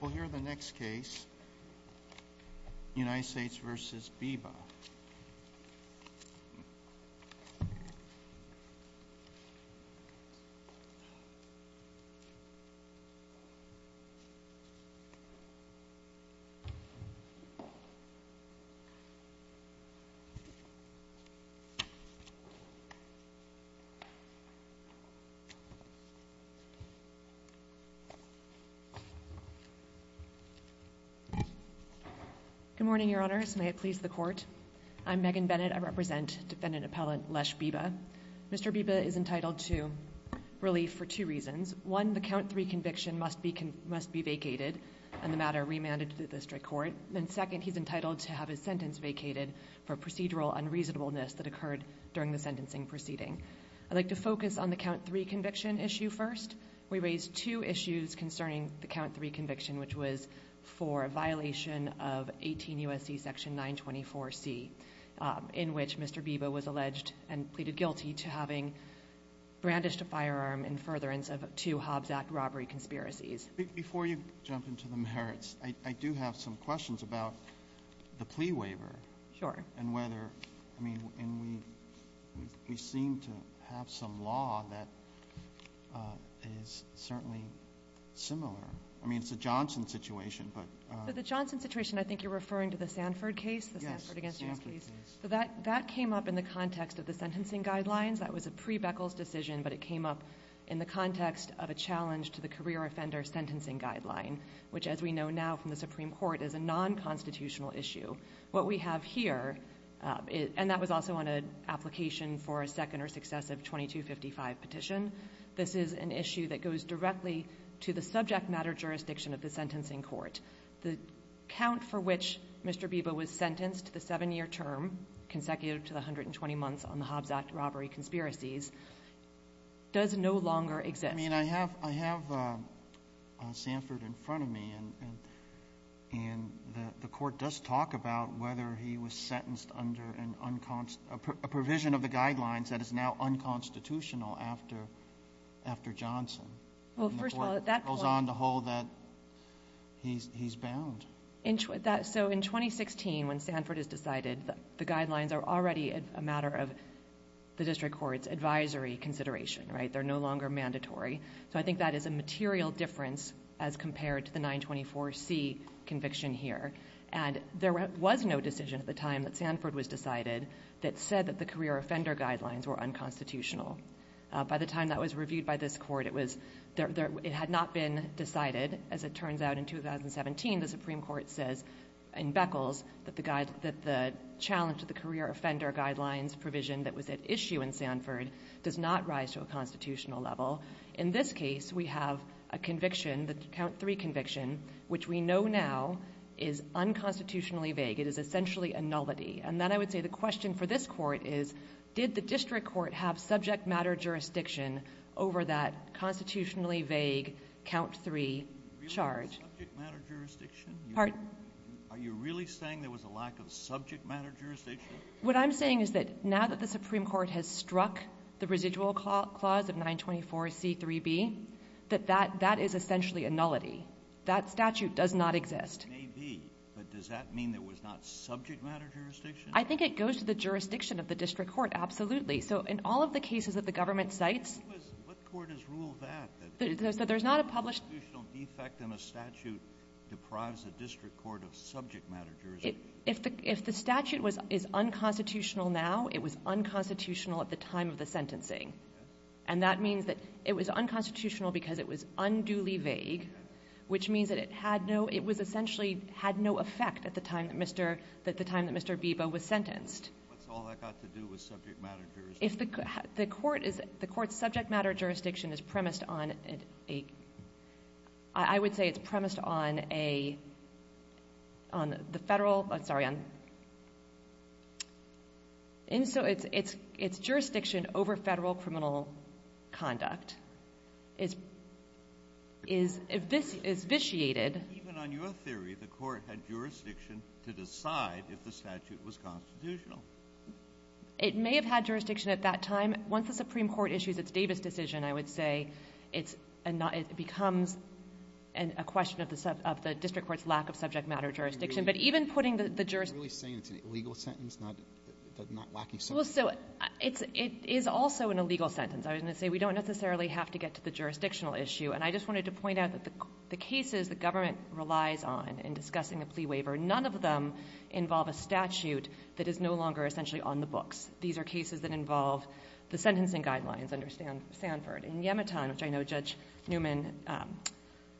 We'll hear the next case, United States v. Biba. Good morning, your honors. May it please the court. I'm Megan Bennett. I represent defendant appellant Les Biba. Mr. Biba is entitled to relief for two reasons. One, the count three conviction must be vacated on the matter remanded to the district court. And second, he's entitled to have his sentence vacated for procedural unreasonableness that occurred during the sentencing proceeding. I'd like to focus on the count three conviction issue first. We raised two issues concerning the count three conviction, which was for a violation of 18 U.S.C. section 924C, in which Mr. Biba was alleged and pleaded guilty to having brandished a firearm in furtherance of two Hobbs Act robbery conspiracies. Before you jump into the merits, I do have some questions about the plea waiver. Sure. And whether, I mean, we seem to have some law that is certainly similar. I mean, it's a Johnson situation, but... So the Johnson situation, I think you're referring to the Sanford case, the Sanford v. U.S. case? Yes, the Sanford case. So that came up in the context of the sentencing guidelines. That was a pre-Beckles decision, but it came up in the context of a challenge to the career offender sentencing guideline, which, as we know now from the Supreme Court, is a non-constitutional issue. What we have here, and that was also on an application for a second or successive 2255 petition, this is an issue that goes directly to the subject matter jurisdiction of the sentencing court. The count for which Mr. Biba was sentenced, the seven-year term consecutive to the 120 months on the Hobbs Act robbery conspiracies, does no longer exist. I mean, I have Sanford in front of me, and the court does talk about whether he was sentenced under a provision of the guidelines that is now unconstitutional after Johnson. And the court goes on to hold that he's bound. So in 2016, when Sanford is decided, the guidelines are already a matter of the district court's advisory consideration, right? They're no longer an advisory. So I think that is a material difference as compared to the 924C conviction here. And there was no decision at the time that Sanford was decided that said that the career offender guidelines were unconstitutional. By the time that was reviewed by this court, it had not been decided. As it turns out in 2017, the Supreme Court says in Beckles that the challenge to the career offender guidelines provision that was at issue in Sanford does not rise to a constitutional level. In this case, we have a conviction, the count three conviction, which we know now is unconstitutionally vague. It is essentially a nullity. And then I would say the question for this court is, did the district court have subject matter jurisdiction over that constitutionally vague count three charge? Are you really saying there was a lack of subject matter jurisdiction? What I'm saying is that now that the Supreme Court has struck the residual clause of 924C3B, that that is essentially a nullity. That statute does not exist. It may be, but does that mean there was not subject matter jurisdiction? I think it goes to the jurisdiction of the district court, absolutely. So in all of the cases that the government cites — What court has ruled that? That there's not a published — A constitutional defect in a statute deprives a district court of subject matter jurisdiction. If the statute is unconstitutional now, it was unconstitutional at the time of the sentencing. And that means that it was unconstitutional because it was unduly vague, which means that it had no — it was essentially — had no effect at the time that Mr. — at the time that Mr. Beebo was sentenced. What's all that got to do with subject matter jurisdiction? If the court is — the court's subject matter jurisdiction is premised on a — I — sorry, on — and so it's jurisdiction over Federal criminal conduct is — is vitiated. Even on your theory, the court had jurisdiction to decide if the statute was constitutional. It may have had jurisdiction at that time. Once the Supreme Court issues its Davis decision, I would say it's — it becomes a question of the — of the district court's lack of subject matter jurisdiction. But even putting the jurisdiction — You're really saying it's an illegal sentence, not — not lacking subject matter? Well, so it's — it is also an illegal sentence. I was going to say we don't necessarily have to get to the jurisdictional issue. And I just wanted to point out that the cases the government relies on in discussing a plea waiver, none of them involve a statute that is no longer essentially on the books. These are cases that involve the sentencing guidelines under Sanford. In Yemitan, which I know Judge Newman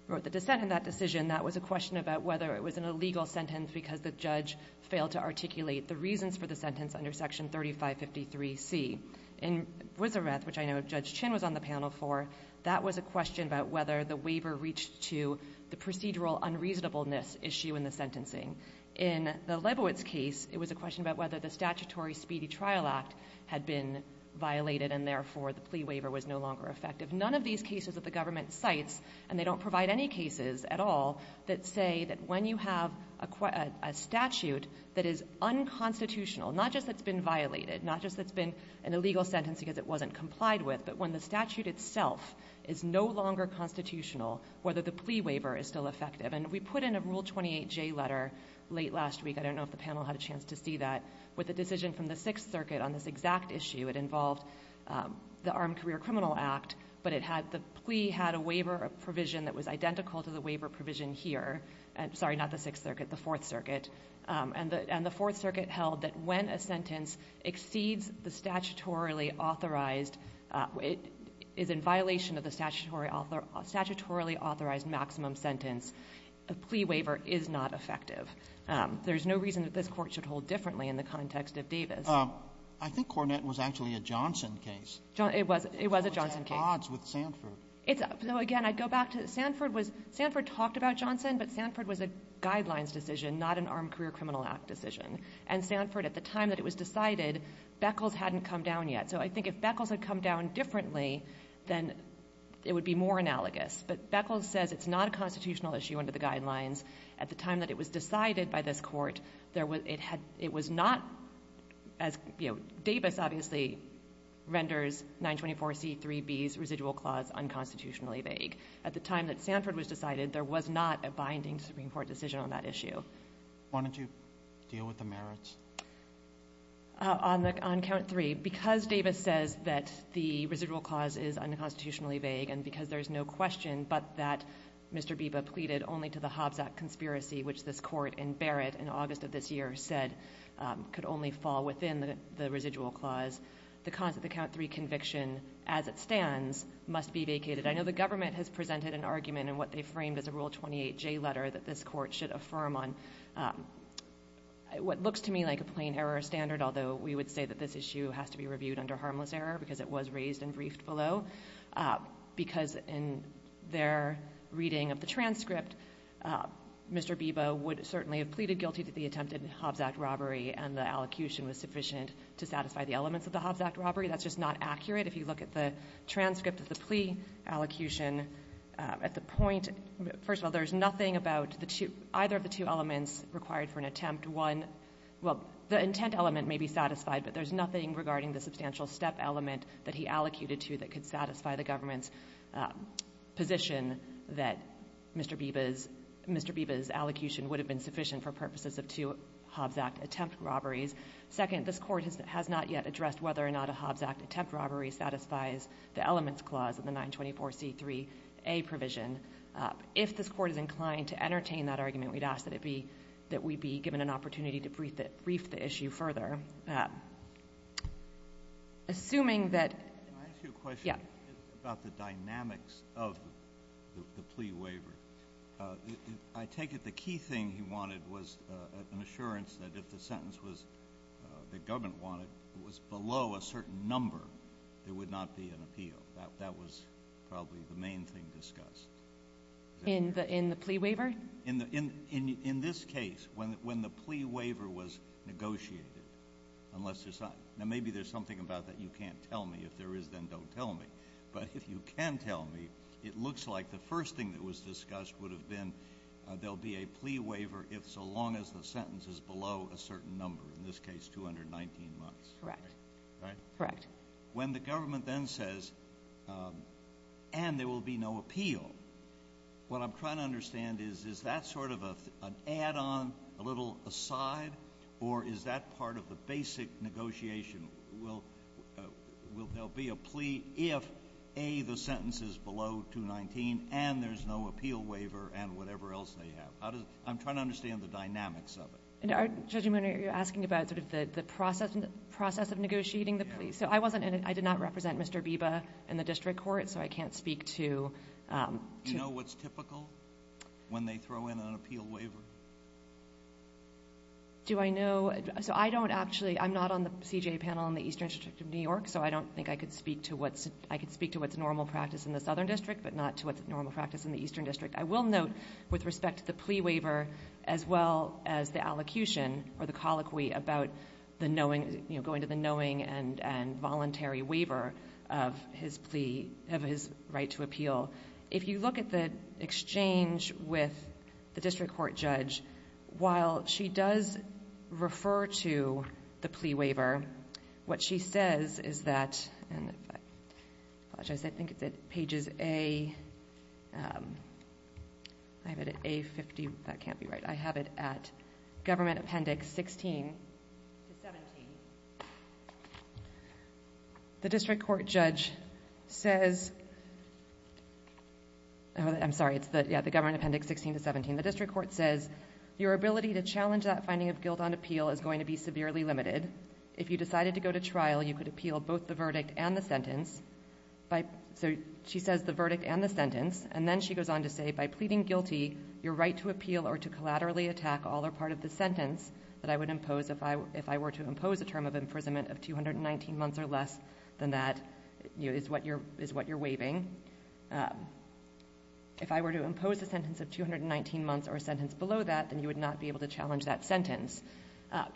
wrote the dissent in that decision, that was a question about whether it was an illegal sentence because the judge failed to articulate the reasons for the sentence under Section 3553C. In Wissereth, which I know Judge Chin was on the panel for, that was a question about whether the waiver reached to the procedural unreasonableness issue in the sentencing. In the Leibowitz case, it was a question about whether the statutory speedy trial act had been violated and, therefore, the plea waiver was no longer effective. None of these cases that the government cites, and they don't provide any cases at all, that say that when you have a statute that is unconstitutional, not just that it's been violated, not just that it's been an illegal sentence because it wasn't complied with, but when the statute itself is no longer constitutional, whether the plea waiver is still effective. And we put in a Rule 28J letter late last week — I don't know if the panel had a chance to see that — with a decision from the Sixth Circuit on this exact issue. It involved the Armed Career Criminal Act, but it had — the plea had a waiver provision that was identical to the waiver provision here. Sorry, not the Sixth Circuit, the Fourth Circuit. And the Fourth Circuit held that when a sentence exceeds the statutorily authorized — is in violation of the statutorily authorized maximum sentence, a plea waiver is not effective. There's no reason that this Court should hold differently in the context of Davis. I think Cornett was actually a Johnson case. It was. It was a Johnson case. It was at odds with Sanford. It's — again, I'd go back to — Sanford was — Sanford talked about Johnson, but Sanford was a Guidelines decision, not an Armed Career Criminal Act decision. And Sanford, at the time that it was decided, Beckles hadn't come down yet. So I think if Beckles had come down differently, then it would be more analogous. But Beckles says it's not a constitutional issue under the Guidelines. At the time that it was decided by this Court, there was — it had — it was not as — you know, Davis obviously renders 924C3B's residual clause unconstitutionally vague. At the time that Sanford was decided, there was not a binding Supreme Court decision on that issue. Why don't you deal with the merits? On count three, because Davis says that the residual clause is unconstitutionally vague and because there's no question but that Mr. Biba pleaded only to the Hobbs Act conspiracy, which this Court in Barrett in August of this year said could only fall within the residual clause, the count three conviction, as it stands, must be vacated. I know the government has presented an argument in what they framed as a Rule 28J letter that this Court should affirm on what looks to me like a plain error standard, although we would say that this issue has to be reviewed under harmless error because it was raised and briefed below, because in their reading of the transcript, Mr. Biba would certainly have pleaded guilty to the attempted Hobbs Act robbery, and the allocution was sufficient to satisfy the elements of the Hobbs Act robbery. That's just not accurate. If you look at the transcript of the plea allocution, at the point — first of all, there's nothing about the two — either of the two elements required for an attempt. One — well, the intent element may be satisfied, but there's nothing regarding the substantial step element that he allocated to that could satisfy the government's position that Mr. Biba's — Mr. Biba's allocation would have been sufficient for purposes of two Hobbs Act attempt robberies. Second, this Court has not yet addressed whether or not a Hobbs Act attempt robbery satisfies the elements clause of the 924C3A provision. If this Court is inclined to entertain that argument, we'd ask that it be — that we be given an opportunity to brief the issue further. Assuming that — Can I ask you a question? Yeah. About the dynamics of the plea waiver. I take it the key thing he wanted was an assurance that if the sentence was — that government wanted, it was below a certain number, there would not be an appeal. That was probably the main thing discussed. In the — in the plea waiver? In the — in this case, when the plea waiver was negotiated, unless there's — now, maybe there's something about that you can't tell me. If there is, then don't tell me. But if you can tell me, it looks like the first thing that was discussed would have been there'll be a plea waiver if — so long as the sentence is below a certain number. In this case, 219 months. Correct. Right? Correct. My question is, is that sort of an add-on, a little aside? Or is that part of the basic negotiation? Will — will there be a plea if, A, the sentence is below 219 and there's no appeal waiver and whatever else they have? How does — I'm trying to understand the dynamics of it. And are — Judge Omono, you're asking about sort of the process of negotiating the plea? So I wasn't in it. I did not represent Mr. Biba in the district court, so I can't speak to — Do you know what's typical when they throw in an appeal waiver? Do I know — so I don't actually — I'm not on the CJA panel in the Eastern District of New York, so I don't think I could speak to what's — I could speak to what's normal practice in the Southern District, but not to what's normal practice in the Eastern District. I will note, with respect to the plea waiver, as well as the allocution or the colloquy about the knowing — you know, going to the knowing and — and voluntary waiver of his plea — of his right to appeal, if you look at the exchange with the district court judge, while she does refer to the plea waiver, what she says is that — and if I — I apologize. I think it's at pages A — I have it at A50. That can't be right. I have it at Government Appendix 16 to 17. The district court judge says — oh, I'm sorry. It's the — yeah, the Government Appendix 16 to 17. The district court says, your ability to challenge that finding of guilt on appeal is going to be severely limited. If you decided to go to trial, you could appeal both the verdict and the sentence by — so she says the verdict and the sentence, and then she goes on to say, by pleading guilty, your right to appeal or to collaterally attack all or part of the sentence that I would impose if I — if I were to impose a term of imprisonment of 219 months or less than that, you know, is what you're — is what you're waiving. If I were to impose a sentence of 219 months or a sentence below that, then you would not be able to challenge that sentence.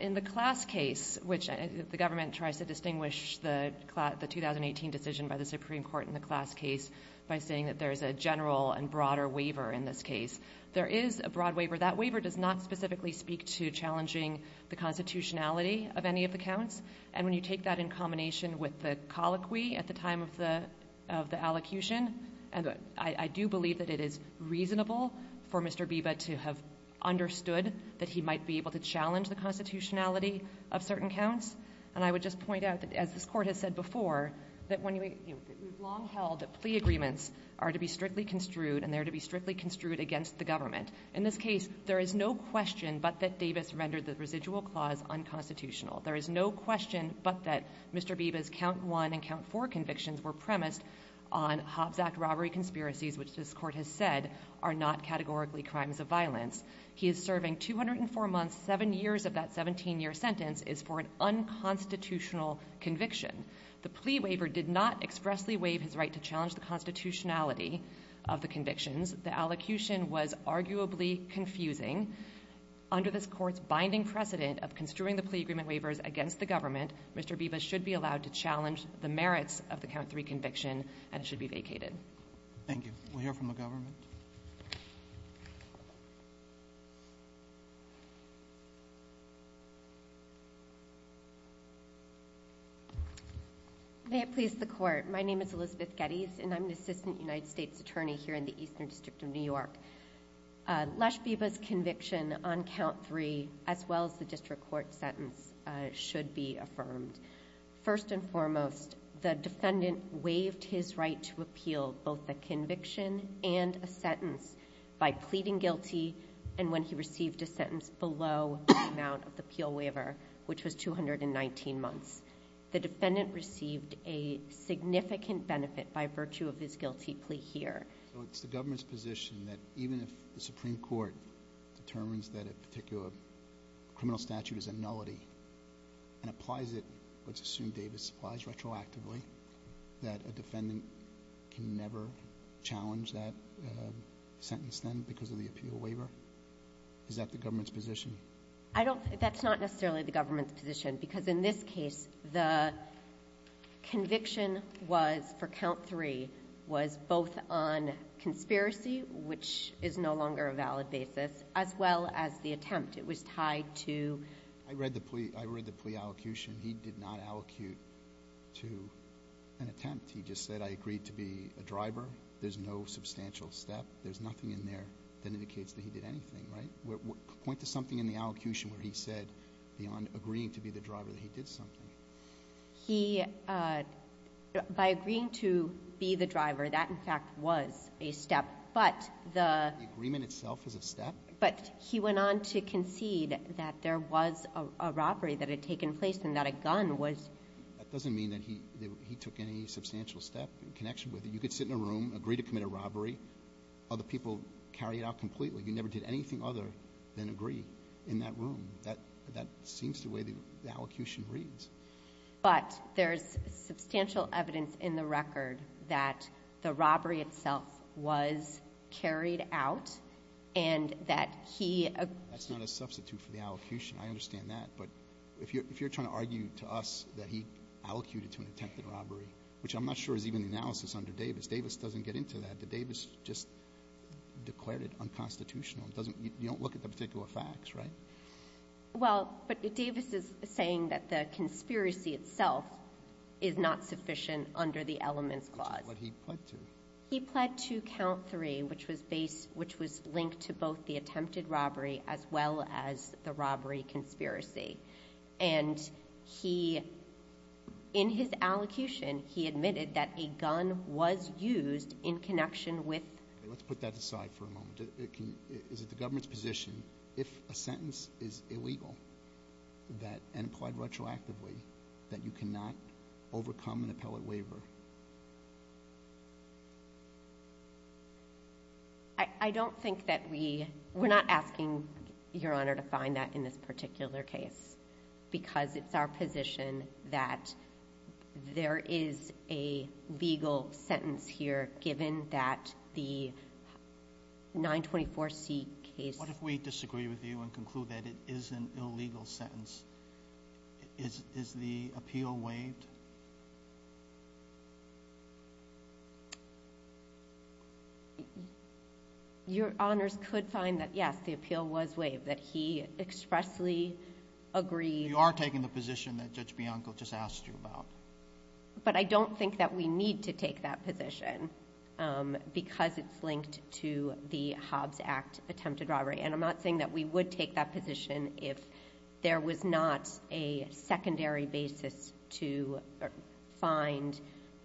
In the class case, which — the government tries to distinguish the 2018 decision by the Supreme Court in the class case by saying that there is a general and broader waiver in this case. There is a broad waiver. That waiver does not specifically speak to challenging the constitutionality of any of the counts. And when you take that in combination with the colloquy at the time of the — of the allocution, I do believe that it is reasonable for Mr. Biba to have understood that he might be able to challenge the constitutionality of certain counts. And I would just point out that, as this Court has said before, that when you — you In this case, there is no question but that Davis rendered the residual clause unconstitutional. There is no question but that Mr. Biba's count one and count four convictions were premised on Hobbs Act robbery conspiracies, which this Court has said are not categorically crimes of violence. He is serving 204 months. Seven years of that 17-year sentence is for an unconstitutional conviction. The plea waiver did not expressly waive his right to challenge the constitutionality of the convictions. The allocution was arguably confusing. Under this Court's binding precedent of construing the plea agreement waivers against the government, Mr. Biba should be allowed to challenge the merits of the count three conviction and should be vacated. Thank you. We'll hear from the government. May it please the Court. My name is Elizabeth Geddes, and I'm an assistant United States attorney here in the Eastern District of New York. Lash Biba's conviction on count three, as well as the district court sentence, should be affirmed. First and foremost, the defendant waived his right to appeal both a conviction and a sentence by pleading guilty, and when he received a sentence below the amount of the appeal waiver, which was 219 months. The defendant received a significant benefit by virtue of his guilty plea here. So it's the government's position that even if the Supreme Court determines that a particular criminal statute is a nullity and applies it, let's assume Davis applies retroactively, that a defendant can never challenge that sentence then because of the appeal waiver? Is that the government's position? That's not necessarily the government's position, because in this case the conviction was, for count three, was both on conspiracy, which is no longer a valid basis, as well as the attempt. It was tied to? I read the plea allocution. He did not allocate to an attempt. He just said, I agreed to be a driver. There's no substantial step. There's nothing in there that indicates that he did anything, right? Point to something in the allocution where he said beyond agreeing to be the driver that he did something. He, by agreeing to be the driver, that, in fact, was a step. But the ---- The agreement itself is a step? But he went on to concede that there was a robbery that had taken place and that a gun was ---- That doesn't mean that he took any substantial step in connection with it. You could sit in a room, agree to commit a robbery. Other people carry it out completely. You never did anything other than agree in that room. That seems the way the allocution reads. But there's substantial evidence in the record that the robbery itself was carried out and that he ---- That's not a substitute for the allocation. I understand that. But if you're trying to argue to us that he allocated to an attempted robbery, which I'm not sure is even the analysis under Davis. Davis doesn't get into that. The Davis just declared it unconstitutional. It doesn't ---- you don't look at the particular facts, right? Well, but Davis is saying that the conspiracy itself is not sufficient under the elements clause. Which is what he pled to. He pled to count three, which was base ---- which was linked to both the attempted robbery as well as the robbery conspiracy. And he, in his allocution, he admitted that a gun was used in connection with ---- Let's put that aside for a moment. Is it the government's position, if a sentence is illegal and applied retroactively, that you cannot overcome an appellate waiver? I don't think that we ---- we're not asking, Your Honor, to find that in this particular case because it's our position that there is a legal sentence here given that the 924C case ---- What if we disagree with you and conclude that it is an illegal sentence? Is the appeal waived? Your Honors, could find that, yes, the appeal was waived. That he expressly agreed ---- You are taking the position that Judge Bianco just asked you about. But I don't think that we need to take that position because it's linked to the Hobbs Act attempted robbery. And I'm not saying that we would take that position if there was not a find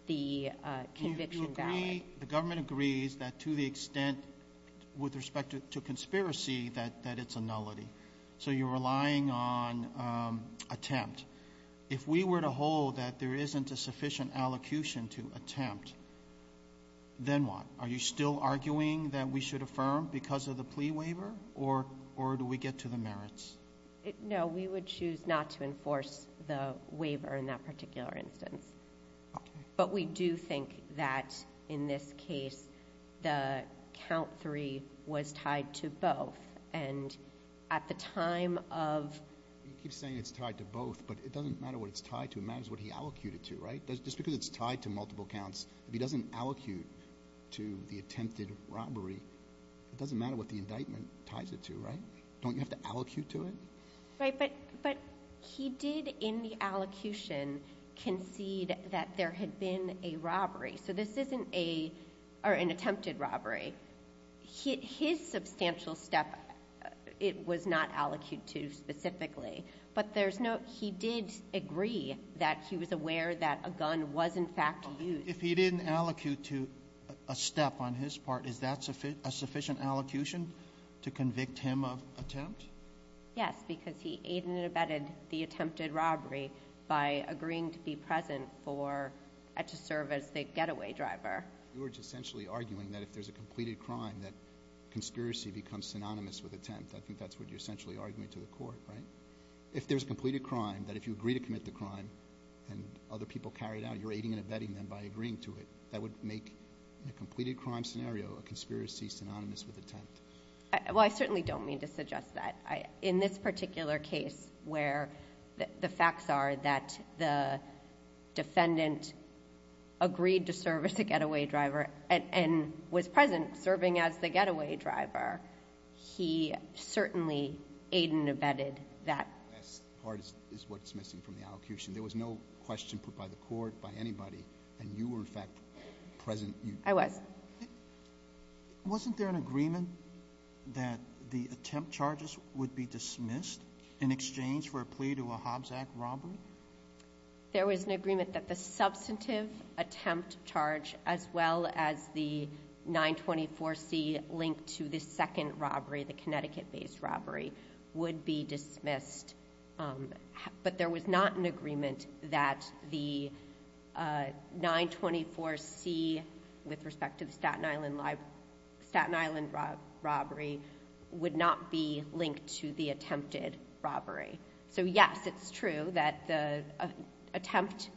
the conviction valid. You agree, the government agrees that to the extent with respect to conspiracy that it's a nullity. So you're relying on attempt. If we were to hold that there isn't a sufficient allocution to attempt, then what? Are you still arguing that we should affirm because of the plea waiver? Or do we get to the merits? No, we would choose not to enforce the waiver in that particular instance. But we do think that in this case the count three was tied to both. And at the time of ---- You keep saying it's tied to both, but it doesn't matter what it's tied to. It matters what he allocated to, right? Just because it's tied to multiple counts, if he doesn't allocate to the attempted robbery, it doesn't matter what the indictment ties it to, right? Don't you have to allocate to it? Right. But he did in the allocution concede that there had been a robbery. So this isn't an attempted robbery. His substantial step it was not allocated to specifically. But there's no ---- he did agree that he was aware that a gun was in fact used. If he didn't allocate to a step on his part, is that a sufficient allocation to convict him of attempt? Yes, because he aided and abetted the attempted robbery by agreeing to be present for ---- to serve as the getaway driver. You are essentially arguing that if there's a completed crime that conspiracy becomes synonymous with attempt. I think that's what you're essentially arguing to the court, right? If there's a completed crime, that if you agree to commit the crime and other people carry it out, you're aiding and abetting them by agreeing to it. That would make a completed crime scenario a conspiracy synonymous with attempt. Well, I certainly don't mean to suggest that. In this particular case where the facts are that the defendant agreed to serve as a getaway driver and was present serving as the getaway driver, he certainly aided and abetted that. That part is what's missing from the allocution. There was no question put by the court, by anybody, and you were, in fact, present. I was. Wasn't there an agreement that the attempt charges would be dismissed in exchange for a plea to a Hobbs Act robbery? There was an agreement that the substantive attempt charge, as well as the 924C link to the second robbery, the Connecticut-based robbery, would be dismissed. But there was not an agreement that the 924C, with respect to the Staten Island robbery, would not be linked to the attempted robbery. So, yes, it's true that the attempt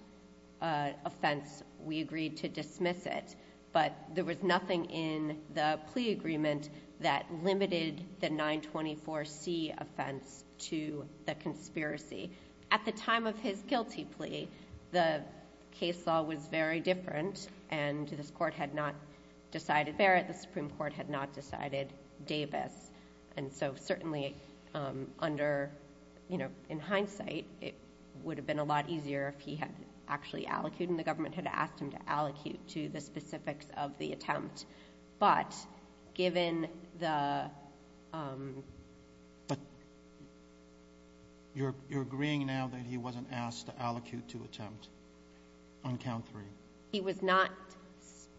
offense, we agreed to dismiss it. But there was nothing in the plea agreement that limited the 924C offense to the conspiracy. At the time of his guilty plea, the case law was very different, and this court had not decided Barrett. The Supreme Court had not decided Davis. And so, certainly, under, you know, in hindsight, it would have been a lot easier if he had actually allocated, and the government had asked him to allocate to the specifics of the attempt. But, given the... But you're agreeing now that he wasn't asked to allocate to attempt on count three? He was not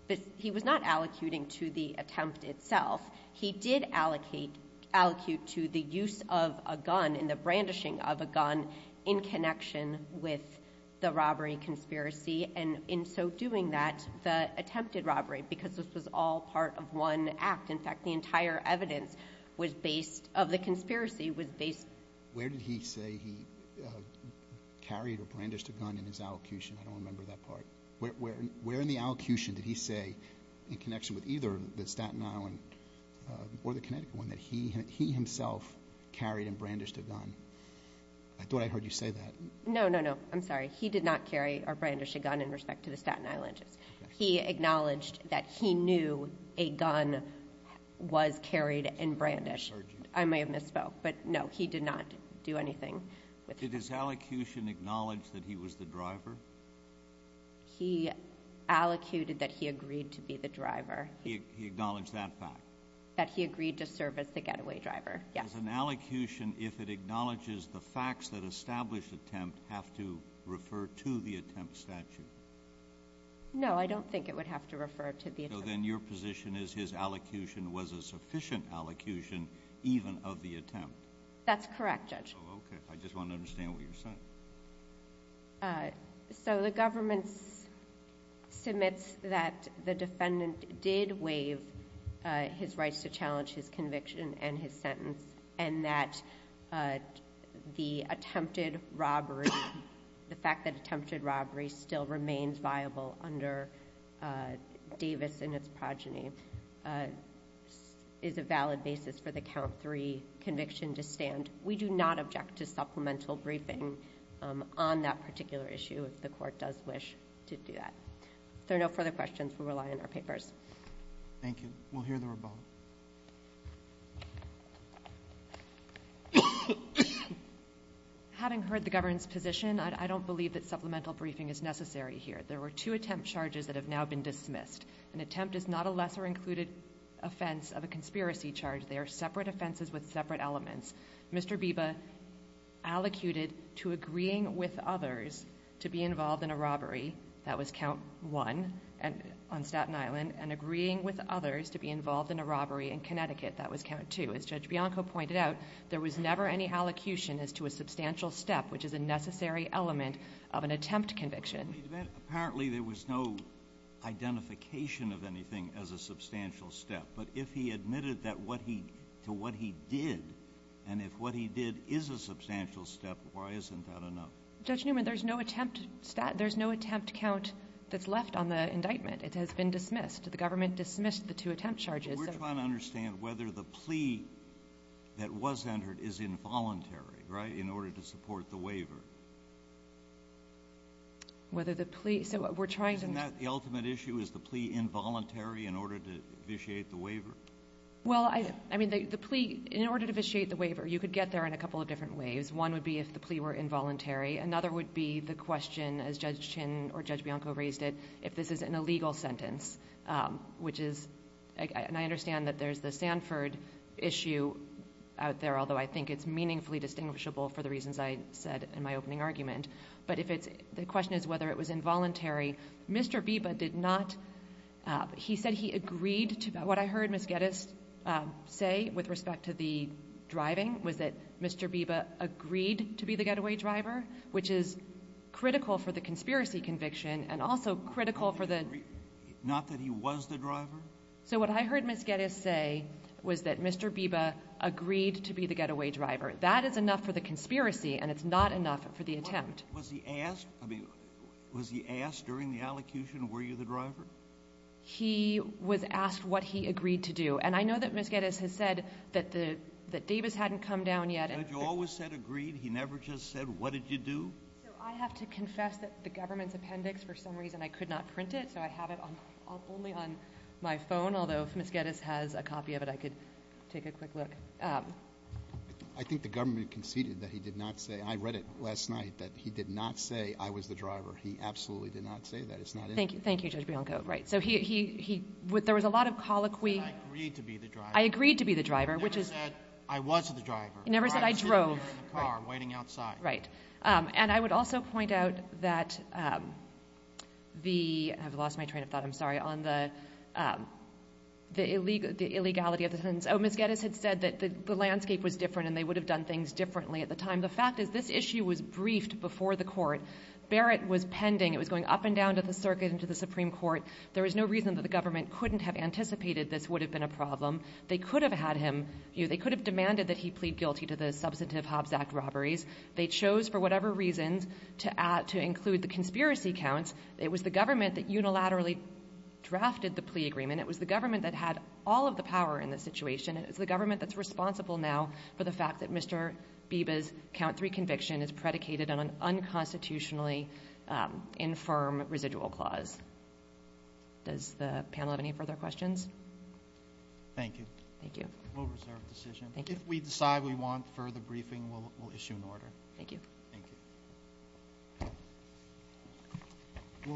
allocuting to the attempt itself. He did allocate to the use of a gun and the brandishing of a gun in connection with the robbery conspiracy, and in so doing that, the attempted robbery, because this was all part of one act. In fact, the entire evidence of the conspiracy was based... Where did he say he carried or brandished a gun in his allocution? I don't remember that part. Where in the allocution did he say, in connection with either the Staten Island or the Connecticut one, that he himself carried and brandished a gun? I thought I heard you say that. No, no, no. I'm sorry. He did not carry or brandish a gun in respect to the Staten Island. He acknowledged that he knew a gun was carried and brandished. I may have misspoke, but, no, he did not do anything. Did his allocution acknowledge that he was the driver? He allocated that he agreed to be the driver. He acknowledged that fact? That he agreed to serve as the getaway driver, yes. Does an allocution, if it acknowledges the facts that establish attempt, have to refer to the attempt statute? No, I don't think it would have to refer to the attempt statute. So then your position is his allocution was a sufficient allocution even of the attempt? That's correct, Judge. Oh, okay. I just want to understand what you're saying. So the government submits that the defendant did waive his rights to challenge his conviction and his sentence, and that the attempted robbery, the fact that attempted robbery still remains viable under Davis and its progeny, is a valid basis for the count three conviction to stand. We do not object to supplemental briefing on that particular issue if the court does wish to do that. If there are no further questions, we rely on our papers. Thank you. We'll hear the rebuttal. Having heard the government's position, I don't believe that supplemental briefing is necessary here. There were two attempt charges that have now been dismissed. An attempt is not a lesser included offense of a conspiracy charge. They are separate offenses with separate elements. Mr. Biba allocated to agreeing with others to be involved in a robbery. That was count one on Staten Island. And agreeing with others to be involved in a robbery in Connecticut. That was count two. As Judge Bianco pointed out, there was never any allocution as to a substantial step, which is a necessary element of an attempt conviction. Apparently, there was no identification of anything as a substantial step. But if he admitted that what he to what he did, and if what he did is a substantial step, why isn't that enough? Judge Newman, there's no attempt count that's left on the indictment. It has been dismissed. The government dismissed the two attempt charges. We're trying to understand whether the plea that was entered is involuntary, right, in order to support the waiver. Whether the plea so we're trying to Is that the ultimate issue, is the plea involuntary in order to vitiate the waiver? Well, I mean, the plea, in order to vitiate the waiver, you could get there in a couple of different ways. One would be if the plea were involuntary. Another would be the question, as Judge Chin or Judge Bianco raised it, if this is an illegal sentence, which is, and I understand that there's the Sanford issue out there, although I think it's meaningfully distinguishable for the reasons I said in my opening argument. But if it's, the question is whether it was involuntary. Mr. Biba did not, he said he agreed to, what I heard Ms. Geddes say with respect to the driving, was that Mr. Biba agreed to be the getaway driver, which is critical for the conspiracy conviction and also critical for the Not that he was the driver? So what I heard Ms. Geddes say was that Mr. Biba agreed to be the getaway driver. That is enough for the conspiracy and it's not enough for the attempt. Was he asked, I mean, was he asked during the allocution, were you the driver? He was asked what he agreed to do. And I know that Ms. Geddes has said that Davis hadn't come down yet. Judge, you always said agreed. He never just said, what did you do? So I have to confess that the government's appendix, for some reason, I could not print it, so I have it only on my phone, although if Ms. Geddes has a copy of it, I could take a quick look. I think the government conceded that he did not say, I read it last night, that he did not say, I was the driver. He absolutely did not say that. It's not in there. Thank you, Judge Bianco. Right. So he, there was a lot of colloquy. He said, I agreed to be the driver. I agreed to be the driver, which is. He never said, I was the driver. He never said, I drove. Right. Sitting in the car, waiting outside. Right. And I would also point out that the, I've lost my train of thought, I'm sorry, on the illegality of the sentence. Ms. Geddes had said that the landscape was different and they would have done things differently at the time. The fact is, this issue was briefed before the court. Barrett was pending. It was going up and down to the circuit and to the Supreme Court. There was no reason that the government couldn't have anticipated this would have been a problem. They could have had him, you know, they could have demanded that he plead guilty to the substantive Hobbs Act robberies. They chose, for whatever reasons, to add, to include the conspiracy counts. It was the government that unilaterally drafted the plea agreement. It was the government that had all of the power in this situation. It was the government that's responsible now for the fact that Mr. Biba's count three conviction is predicated on an unconstitutionally infirm residual clause. Does the panel have any further questions? Thank you. Thank you. We'll reserve the decision. If we decide we want further briefing, we'll issue an order. Thank you. Thank you.